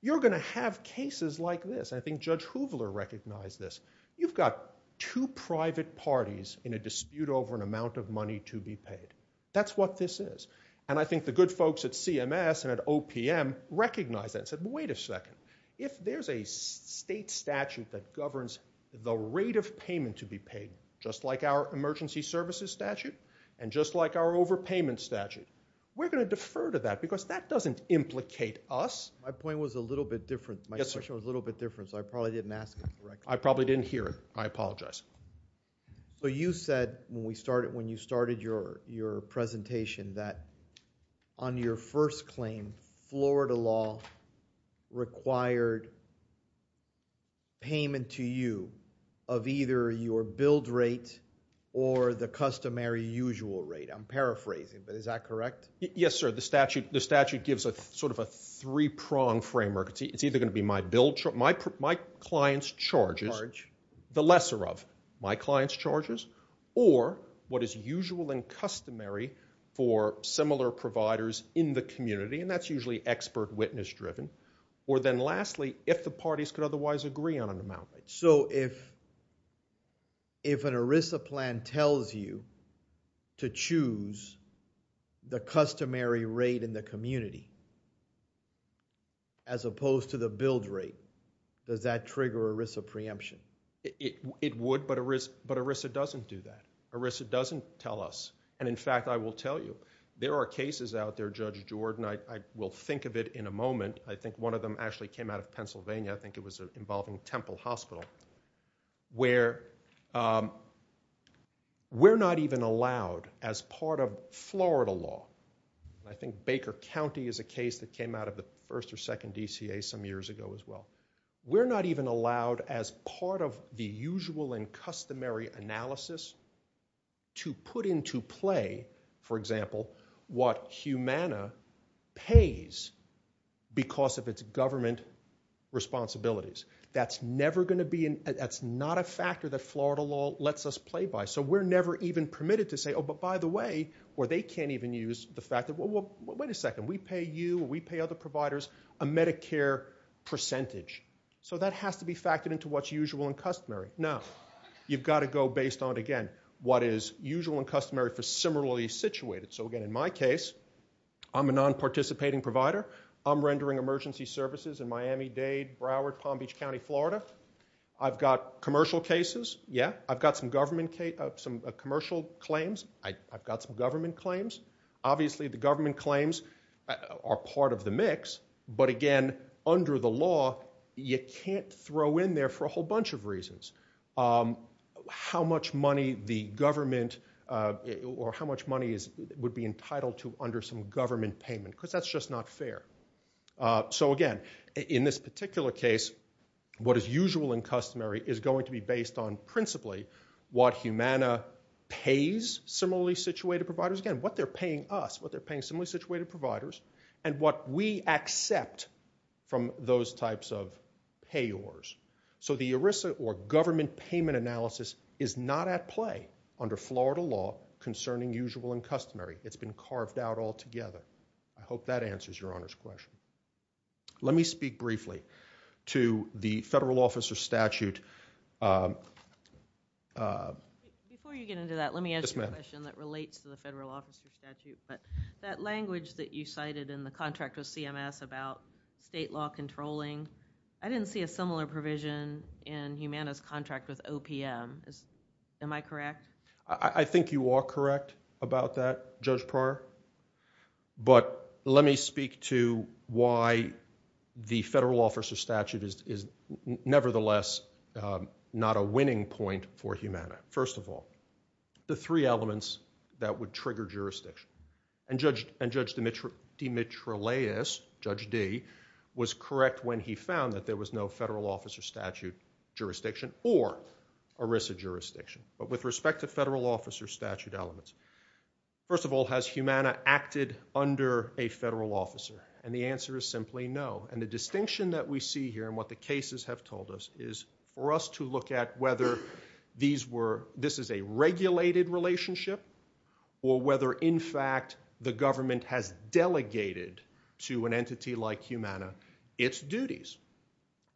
You're gonna have cases like this, and I think Judge Hoover recognized this. You've got two private parties in a dispute over an amount of money to be paid. That's what this is. And I think the good folks at CMS and at OPM recognized that and said, well, wait a second. If there's a state statute that governs the rate of payment to be paid, just like our emergency services statute, and just like our overpayment statute, we're gonna defer to that because that doesn't implicate us. My point was a little bit different. My question was a little bit different, so I probably didn't ask it correctly. I probably didn't hear it. I apologize. But you said when you started your presentation that on your first claim, Florida law required payment to you of either your billed rate or the customary usual rate. I'm paraphrasing, but is that correct? Yes, sir. The statute gives a sort of a three-pronged framework. It's either gonna be my client's charges, the lesser of my client's charges, or what is usual and customary for similar providers in the community, and that's usually expert witness-driven, or then lastly, if the parties could otherwise agree on an amount. So if an ERISA plan tells you to choose the customary rate in the community as opposed to the billed rate, does that trigger ERISA preemption? It would, but ERISA doesn't do that. ERISA doesn't tell us, and in fact, I will tell you, there are cases out there, Judge Jordan, I will think of it in a moment. I think one of them actually came out of Pennsylvania. I think it was involving Temple Hospital, where we're not even allowed, as part of Florida law, I think Baker County is a case that came out of the first or second DCA some years ago as well, we're not even allowed as part of the usual and customary analysis to put into play, for example, what Humana pays because of its government responsibilities. That's never gonna be, that's not a factor that Florida law lets us play by. So we're never even permitted to say, oh, but by the way, or they can't even use the fact that, well, wait a second, we pay you, we pay other providers a Medicare percentage. So that has to be factored into what's usual and customary. Now, you've gotta go based on, again, what is usual and customary for similarly situated. So again, in my case, I'm a non-participating provider. I'm rendering emergency services in Miami-Dade, Broward, Palm Beach County, Florida. I've got commercial cases, yeah. I've got some government, some commercial claims. I've got some government claims. Obviously, the government claims are part of the mix, but again, under the law, you can't throw in there for a whole bunch of reasons. How much money the government, or how much money would be entitled to under some government payment because that's just not fair. So again, in this particular case, what is usual and customary is going to be based on principally what Humana pays similarly situated providers. Again, what they're paying us, what they're paying similarly situated providers, and what we accept from those types of payors. So the ERISA, or government payment analysis, is not at play under Florida law concerning usual and customary. It's been carved out altogether. I hope that answers Your Honor's question. Let me speak briefly to the federal officer statute. Before you get into that, let me ask you a question that relates to the federal officer statute, but that language that you cited in the contract with CMS about state law controlling, I didn't see a similar provision in Humana's contract with OPM. Am I correct? I think you are correct about that, Judge Pryor. But let me speak to why the federal officer statute is nevertheless not a winning point for Humana. First of all, the three elements that would trigger jurisdiction. And Judge Dimitriles, Judge Dee, was correct when he found that there was no federal officer statute jurisdiction or ERISA jurisdiction. But with respect to federal officer statute elements, first of all, has Humana acted under a federal officer? And the answer is simply no. And the distinction that we see here and what the cases have told us is for us to look at whether this is a regulated relationship or whether in fact the government has delegated to an entity like Humana its duties.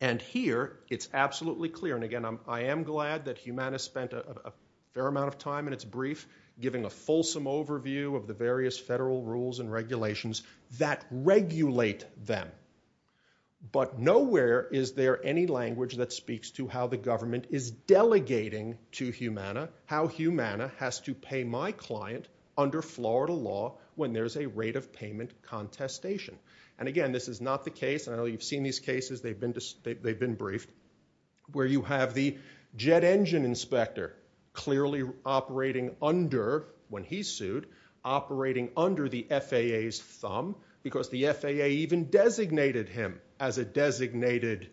And here, it's absolutely clear. And again, I am glad that Humana spent a fair amount of time in its brief giving a fulsome overview of the various federal rules and regulations that regulate them. But nowhere is there any language that speaks to how the government is delegating to Humana how Humana has to pay my client under Florida law when there's a rate of payment contestation. And again, this is not the case, I know you've seen these cases, they've been briefed, where you have the jet engine inspector clearly operating under, when he's sued, operating under the FAA's thumb because the FAA even designated him as a designated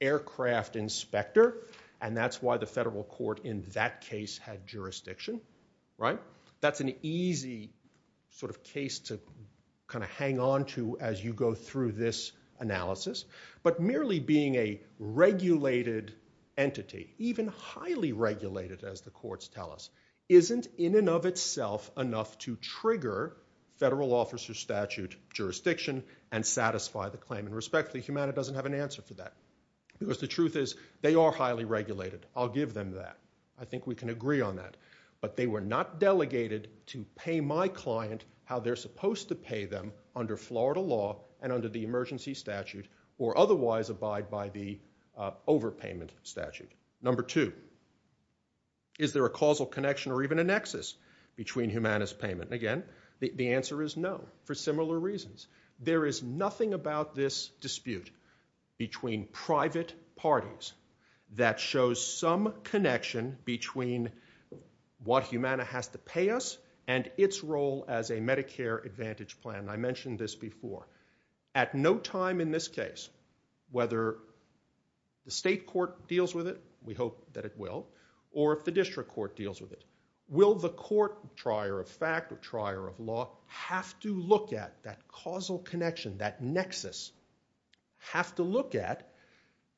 aircraft inspector and that's why the federal court in that case had jurisdiction, right? That's an easy sort of case to kind of hang on to as you go through this analysis. But merely being a regulated entity, even highly regulated as the courts tell us, isn't in and of itself enough to trigger federal officer statute jurisdiction and satisfy the claim. And respectfully, Humana doesn't have an answer for that because the truth is they are highly regulated, I'll give them that. I think we can agree on that. But they were not delegated to pay my client how they're supposed to pay them under Florida law and under the emergency statute or otherwise abide by the overpayment statute. Number two, is there a causal connection or even a nexus between Humana's payment? And again, the answer is no for similar reasons. There is nothing about this dispute between private parties that shows some connection between what Humana has to pay us and its role as a Medicare Advantage plan. I mentioned this before. At no time in this case, whether the state court deals with it, we hope that it will, or if the district court deals with it, will the court, trier of fact or trier of law, have to look at that causal connection, that nexus, have to look at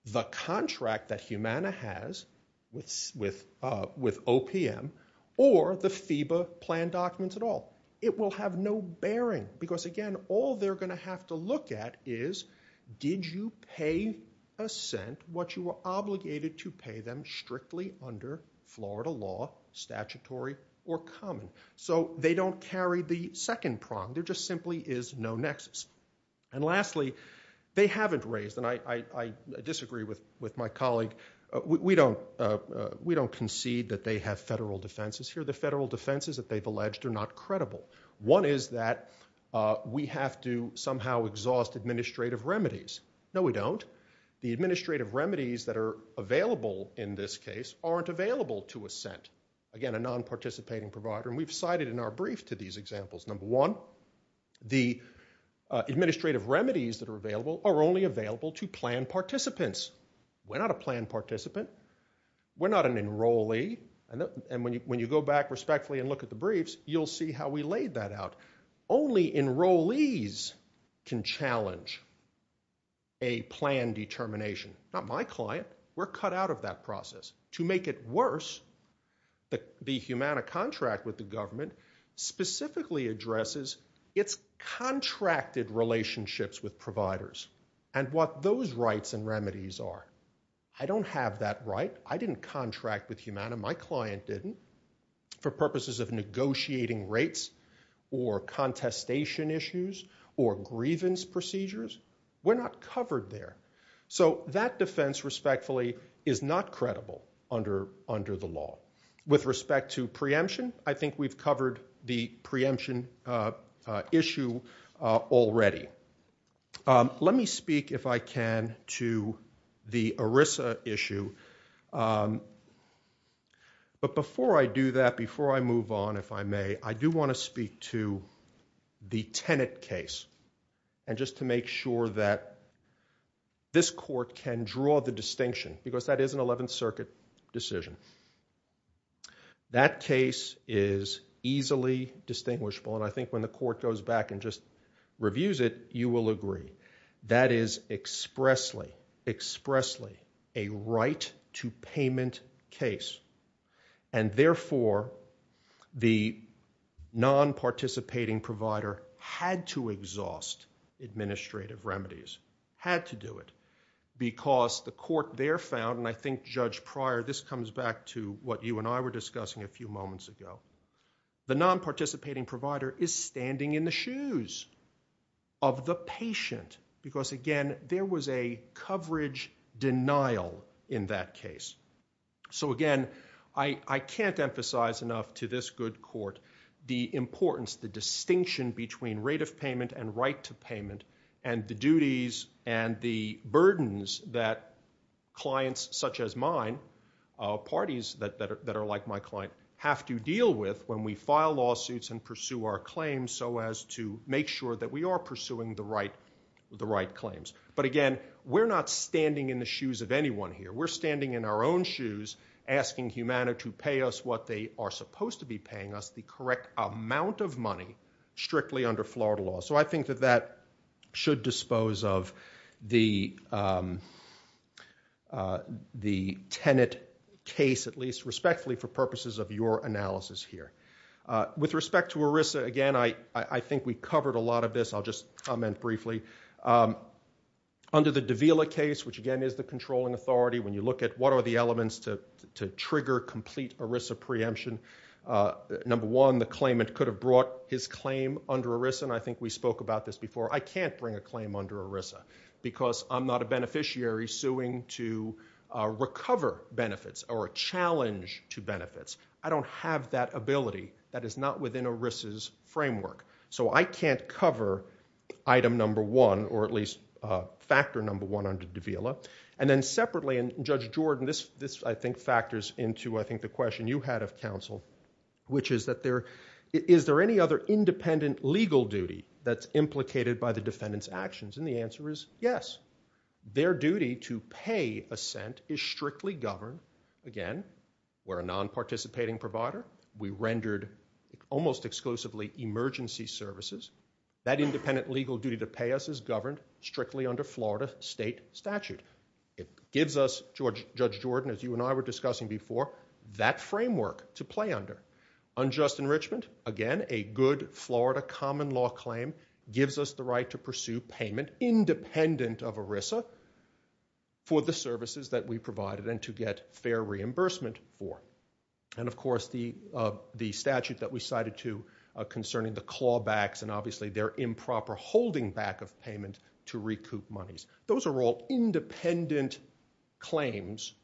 the contract that Humana has with OPM or the FEBA plan documents at all. It will have no bearing because again, all they're gonna have to look at is, did you pay a cent what you were obligated to pay them strictly under Florida law, statutory or common? So they don't carry the second prong. There just simply is no nexus. And lastly, they haven't raised, and I disagree with my colleague, we don't concede that they have federal defenses here. The federal defenses that they've alleged are not credible. One is that we have to somehow exhaust administrative remedies. No, we don't. The administrative remedies that are available in this case aren't available to a cent. Again, a non-participating provider, and we've cited in our brief to these examples. Number one, the administrative remedies that are available are only available to plan participants. We're not a plan participant. We're not an enrollee. And when you go back respectfully and look at the briefs, you'll see how we laid that out. Only enrollees can challenge a plan determination. Not my client. We're cut out of that process. To make it worse, the Humana contract with the government specifically addresses its contracted relationships with providers and what those rights and remedies are. I don't have that right. I didn't contract with Humana. My client didn't. For purposes of negotiating rates or contestation issues or grievance procedures, we're not covered there. So that defense respectfully is not credible under the law. With respect to preemption, I think we've covered the preemption issue already. Let me speak if I can to the ERISA issue. But before I do that, before I move on, if I may, I do want to speak to the Tenet case and just to make sure that this court can draw the distinction because that is an 11th Circuit decision. That case is easily distinguishable and I think when the court goes back and just reviews it, you will agree. That is expressly, expressly a right-to-payment case. And therefore, the non-participating provider had to exhaust administrative remedies, had to do it because the court there found, and I think Judge Pryor, this comes back to what you and I were discussing a few moments ago, the non-participating provider is standing in the shoes of the patient because again, there was a coverage denial in that case. So again, I can't emphasize enough to this good court the importance, the distinction between rate of payment and right-to-payment and the duties and the burdens that clients such as mine, parties that are like my client, have to deal with when we file lawsuits and pursue our claims so as to make sure that we are pursuing the right claims. But again, we're not standing in the shoes of anyone here. We're standing in our own shoes asking Humana to pay us what they are supposed to be paying us, the correct amount of money, strictly under Florida law. So I think that that should dispose of the tenant case, at least respectfully for purposes of your analysis here. With respect to ERISA, again, I think we covered a lot of this, I'll just comment briefly. Under the Davila case, which again, is the controlling authority, when you look at what are the elements to trigger complete ERISA preemption, number one, the claimant could have brought his claim under ERISA and I think we spoke about this before. I can't bring a claim under ERISA or a challenge to benefits. I don't have that ability. That is not within ERISA's framework. So I can't cover item number one, or at least factor number one under Davila. And then separately, and Judge Jordan, this I think factors into I think the question you had of counsel, which is that there, is there any other independent legal duty that's implicated by the defendant's actions? And the answer is yes. Their duty to pay assent is strictly governed, again, we're a non-participating provider. We rendered almost exclusively emergency services. That independent legal duty to pay us is governed strictly under Florida state statute. It gives us, Judge Jordan, as you and I were discussing before, that framework to play under. Unjust enrichment, again, a good Florida common law claim gives us the right to pursue payment independent of ERISA for the services that we provided and to get fair reimbursement for. And of course, the statute that we cited to concerning the clawbacks and obviously their improper holding back of payment to recoup monies. Those are all independent claims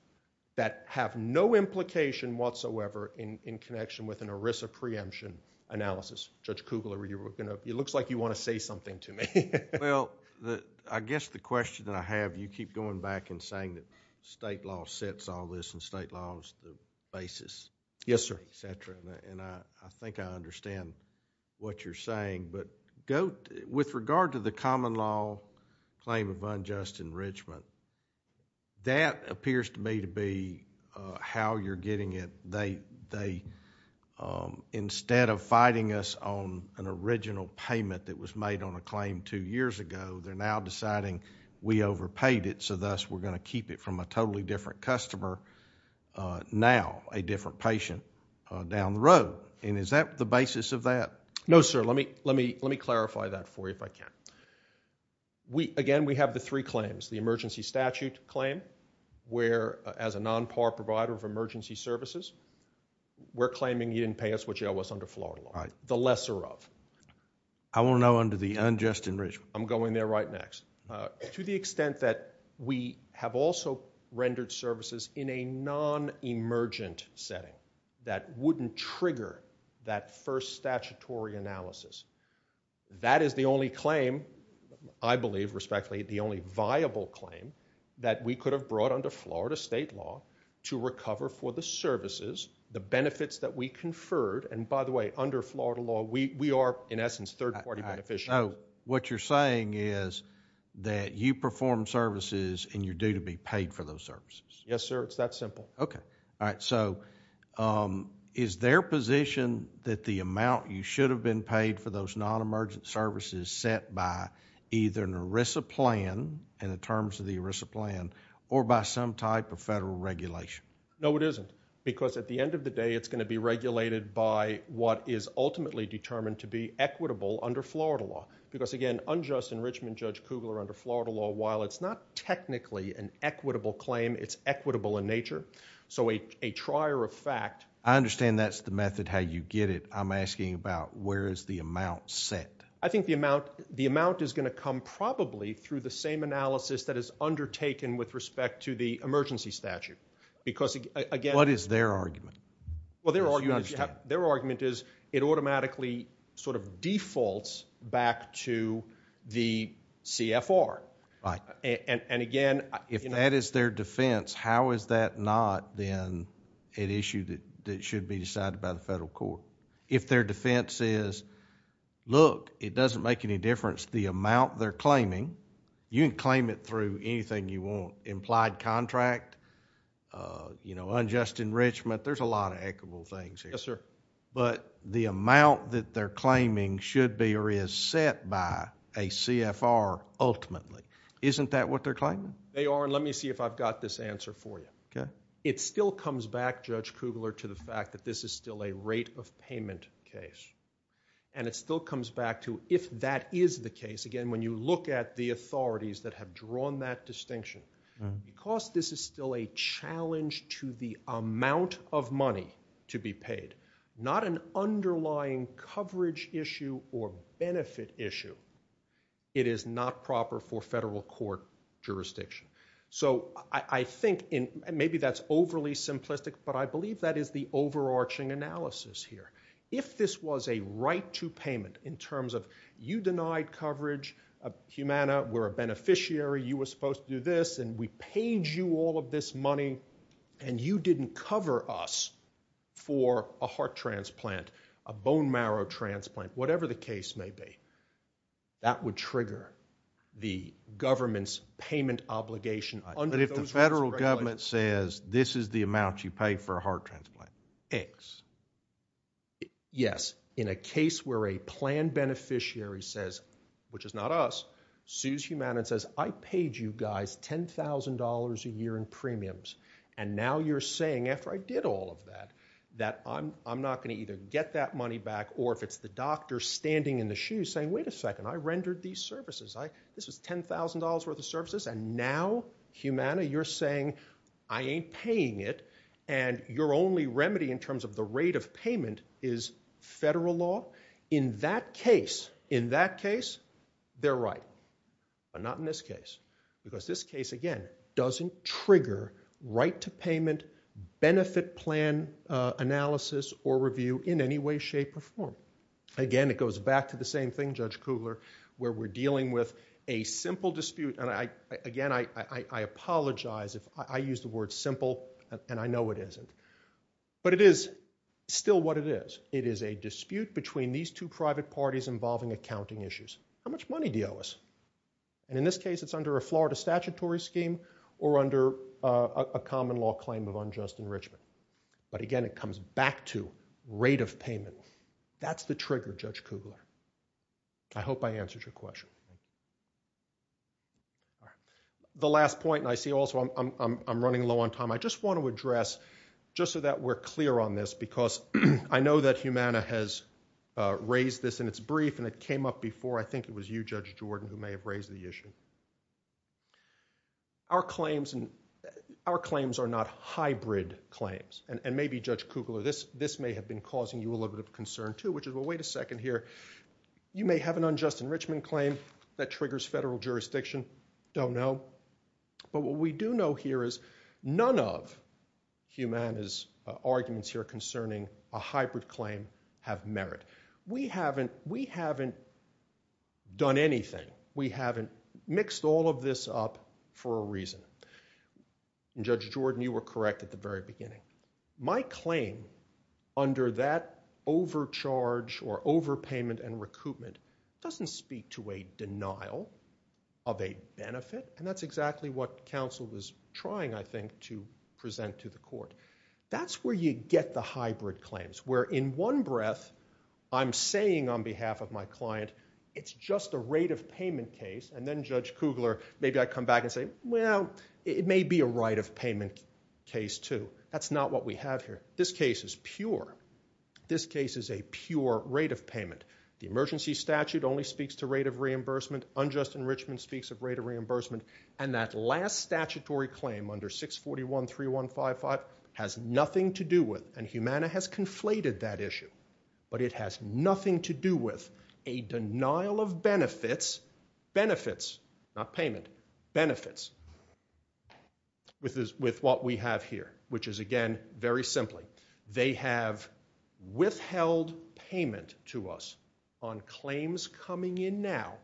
that have no implication whatsoever in connection with an ERISA preemption analysis. Judge Kugler, it looks like you wanna say something to me. Well, I guess the question that I have, you keep going back and saying that state law sets all this and state law is the basis. Yes, sir. Et cetera, and I think I understand what you're saying, but with regard to the common law claim of unjust enrichment, that appears to me to be how you're getting it. Instead of fighting us on an original payment that was made on a claim two years ago, they're now deciding we overpaid it, so thus we're gonna keep it from a totally different customer now, a different patient down the road. And is that the basis of that? No, sir, let me clarify that for you if I can. Again, we have the three claims, the emergency statute claim, where as a non-par provider of emergency services, we're claiming you didn't pay us what you owe us under Florida law, the lesser of. I wanna know under the unjust enrichment. I'm going there right next. To the extent that we have also rendered services in a non-emergent setting that wouldn't trigger that first statutory analysis, that is the only claim, I believe respectfully, the only viable claim that we could have brought under Florida state law to recover for the services, the benefits that we conferred, and by the way, under Florida law, we are in essence third party beneficiary. What you're saying is that you perform services and you're due to be paid for those services? Yes, sir, it's that simple. Okay, all right, so is there position that the amount you should have been paid for those non-emergent services set by either an ERISA plan in the terms of the ERISA plan or by some type of federal regulation? No, it isn't, because at the end of the day, it's gonna be regulated by what is ultimately determined to be equitable under Florida law, because again, unjust enrichment, Judge Kugler, under Florida law, while it's not technically an equitable claim, it's equitable in nature, so a trier of fact. I understand that's the method, how you get it. I'm asking about where is the amount set? I think the amount is gonna come probably through the same analysis that is undertaken with respect to the emergency statute, because again. What is their argument? Well, their argument is it automatically defaults back to the CFR, and again. If that is their defense, how is that not then an issue that should be decided by the federal court? If their defense is, look, it doesn't make any difference the amount they're claiming. You can claim it through anything you want, implied contract, unjust enrichment. There's a lot of equitable things here. Yes, sir. But the amount that they're claiming should be or is set by a CFR ultimately, isn't that what they're claiming? They are, and let me see if I've got this answer for you. It still comes back, Judge Kugler, to the fact that this is still a rate of payment case, and it still comes back to if that is the case. Again, when you look at the authorities that have drawn that distinction, because this is still a challenge to the amount of money to be paid, not an underlying coverage issue or benefit issue, it is not proper for federal court jurisdiction. So I think, and maybe that's overly simplistic, but I believe that is the overarching analysis here. If this was a right to payment in terms of you denied coverage, Humana, we're a beneficiary, you were supposed to do this, and we paid you all of this money, and you didn't cover us for a heart transplant, a bone marrow transplant, whatever the case may be, that would trigger the government's payment obligation under those rights regulations. But if the federal government says this is the amount you pay for a heart transplant, X. Yes, in a case where a planned beneficiary says, which is not us, sues Humana and says, I paid you guys $10,000 a year in premiums, and now you're saying, after I did all of that, that I'm not gonna either get that money back, or if it's the doctor standing in the shoes saying, wait a second, I rendered these services, this was $10,000 worth of services, and now, Humana, you're saying I ain't paying it, and your only remedy in terms of the rate of payment is federal law, in that case, in that case, they're right. But not in this case, because this case, again, doesn't trigger right to payment, benefit plan analysis or review in any way, shape, or form. Again, it goes back to the same thing, Judge Kugler, where we're dealing with a simple dispute, and again, I apologize if I use the word simple, and I know it isn't, but it is still what it is. It is a dispute between these two private parties involving accounting issues. How much money do you owe us? And in this case, it's under a Florida statutory scheme or under a common law claim of unjust enrichment. But again, it comes back to rate of payment. That's the trigger, Judge Kugler. I hope I answered your question. The last point, and I see also I'm running low on time, I just want to address, just so that we're clear on this, because I know that Humana has raised this in its brief, and it came up before, I think it was you, Judge Jordan, who may have raised the issue. Our claims are not hybrid claims, and maybe, Judge Kugler, this may have been causing you a little bit of concern, too, which is, well, wait a second here. You may have an unjust enrichment claim that triggers federal jurisdiction. Don't know. But what we do know here is none of Humana's arguments here concerning a hybrid claim have merit. We haven't done anything. We haven't mixed all of this up for a reason. And Judge Jordan, you were correct at the very beginning. My claim, under that overcharge or overpayment and recoupment, doesn't speak to a denial of a benefit, and that's exactly what counsel is trying, I think, to present to the court. That's where you get the hybrid claims, where in one breath, I'm saying on behalf of my client, it's just a rate of payment case, and then, Judge Kugler, maybe I come back and say, well, it may be a right of payment case, too. That's not what we have here. This case is pure. This case is a pure rate of payment. The emergency statute only speaks to rate of reimbursement. Unjust enrichment speaks of rate of reimbursement, and that last statutory claim under 641.3155 has nothing to do with, and Humana has conflated that issue, but it has nothing to do with a denial of benefits, benefits, not payment, benefits, with what we have here, which is, again, very simply, they have withheld payment to us on claims coming in now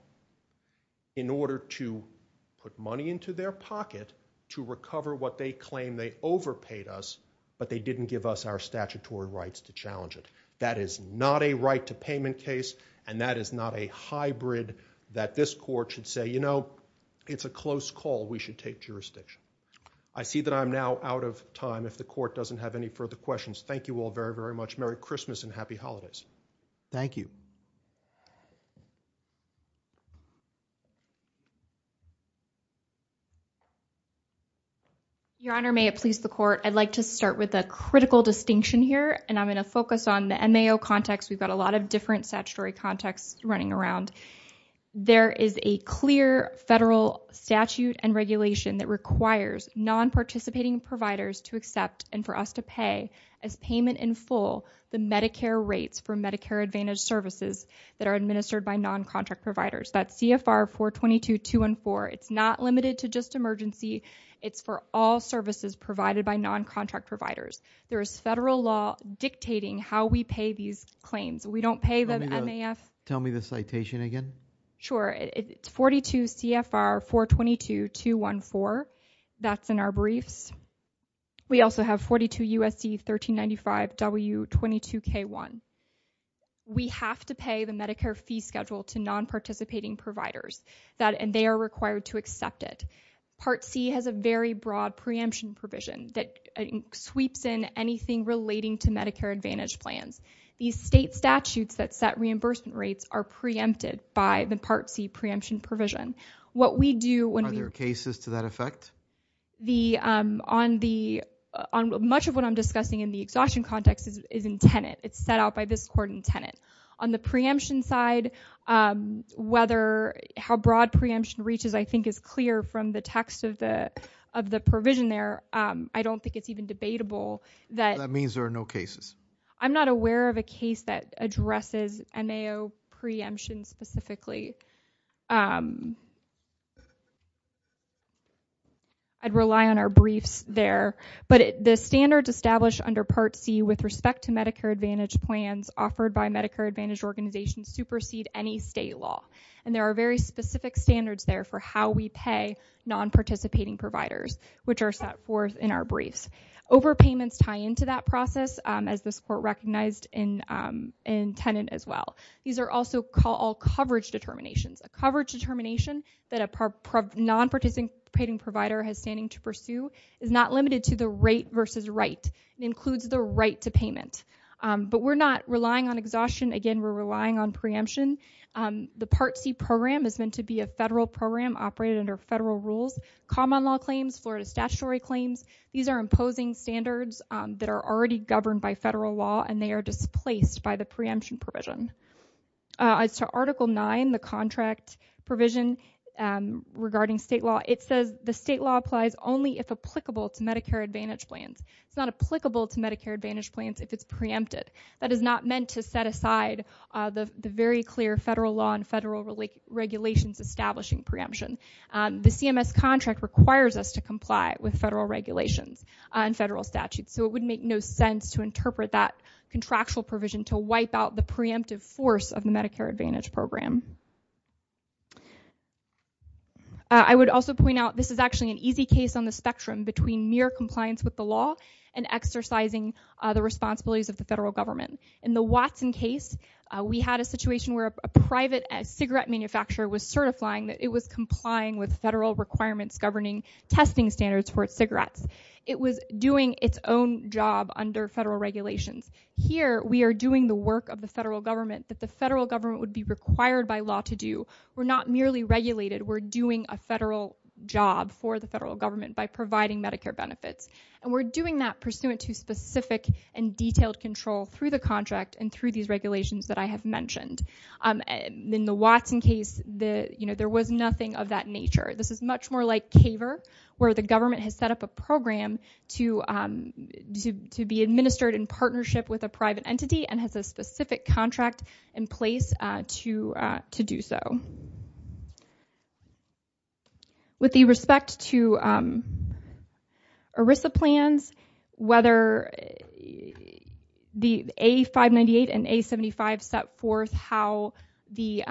in order to put money into their pocket to recover what they claim they overpaid us, but they didn't give us our statutory rights to challenge it. That is not a right to payment case, and that is not a hybrid that this court should say, you know, it's a close call. We should take jurisdiction. I see that I'm now out of time. If the court doesn't have any further questions, thank you all very, very much. Merry Christmas and happy holidays. Thank you. Your Honor, may it please the court, I'd like to start with a critical distinction here, and I'm gonna focus on the MAO context. We've got a lot of different statutory contexts running around. There is a clear federal statute and regulation that requires non-participating providers to accept and for us to pay as payment in full the Medicare rates for Medicare Advantage services that are administered by non-contract providers. That's CFR 422.214. It's not limited to just emergency. It's for all services provided by non-contract providers. There is federal law dictating how we pay these claims. We don't pay the MAF. Tell me the citation again. Sure, it's 42 CFR 422.214. That's in our briefs. We also have 42 USC 1395 W22K1. We have to pay the Medicare fee schedule to non-participating providers, and they are required to accept it. Part C has a very broad preemption provision that sweeps in anything relating to Medicare Advantage plans. These state statutes that set reimbursement rates are preempted by the Part C preemption provision. What we do when we- Are there cases to that effect? Much of what I'm discussing in the exhaustion context is in tenant. It's set out by this court in tenant. On the preemption side, how broad preemption reaches I think is clear from the text of the provision there. I don't think it's even debatable that- That means there are no cases. I'm not aware of a case that addresses MAO preemption specifically. I'd rely on our briefs there, but the standards established under Part C with respect to Medicare Advantage plans offered by Medicare Advantage organizations supersede any state law. There are very specific standards there for how we pay non-participating providers, which are set forth in our briefs. Overpayments tie into that process, as this court recognized in tenant as well. These are also all coverage determinations. A coverage determination that a non-participating provider has standing to pursue is not limited to the rate versus right. It includes the right to payment, but we're not relying on exhaustion. Again, we're relying on preemption. The Part C program is meant to be a federal program operated under federal rules. Common law claims, Florida statutory claims, these are imposing standards that are already governed by federal law, and they are displaced by the preemption provision. As to Article 9, the contract provision regarding state law, it says the state law applies only if applicable to Medicare Advantage plans. It's not applicable to Medicare Advantage plans if it's preempted. That is not meant to set aside the very clear federal law and federal regulations establishing preemption. The CMS contract requires us to comply with federal regulations and federal statutes, so it would make no sense to interpret that contractual provision to wipe out the preemptive force of the Medicare Advantage program. I would also point out, this is actually an easy case on the spectrum between mere compliance with the law and exercising the responsibilities of the federal government. In the Watson case, we had a situation where a private cigarette manufacturer was certifying that it was complying with federal requirements governing testing standards for its cigarettes. It was doing its own job under federal regulations. Here, we are doing the work of the federal government that the federal government would be required by law to do. We're not merely regulated. We're doing a federal job for the federal government by providing Medicare benefits, and we're doing that pursuant to specific and detailed control through the contract and through these regulations that I have mentioned. In the Watson case, there was nothing of that nature. This is much more like CAVER, where the government has set up a program to be administered in partnership with a private entity and has a specific contract in place to do so. With the respect to ERISA plans, whether the A598 and A75 set forth how the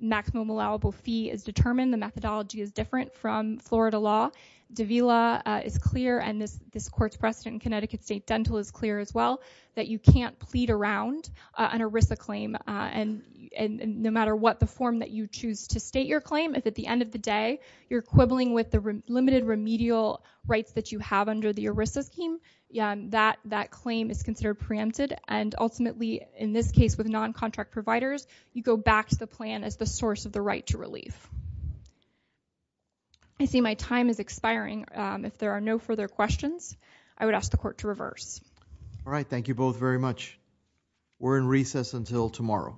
maximum allowable fee is determined, the methodology is different from Florida law. Davila is clear, and this court's precedent in Connecticut State Dental is clear as well, that you can't plead around an ERISA claim no matter what the form that you choose. To state your claim, if at the end of the day you're quibbling with the limited remedial rights that you have under the ERISA scheme, that claim is considered preempted, and ultimately, in this case with non-contract providers, you go back to the plan as the source of the right to relief. I see my time is expiring. If there are no further questions, I would ask the court to reverse. All right, thank you both very much. We're in recess until tomorrow.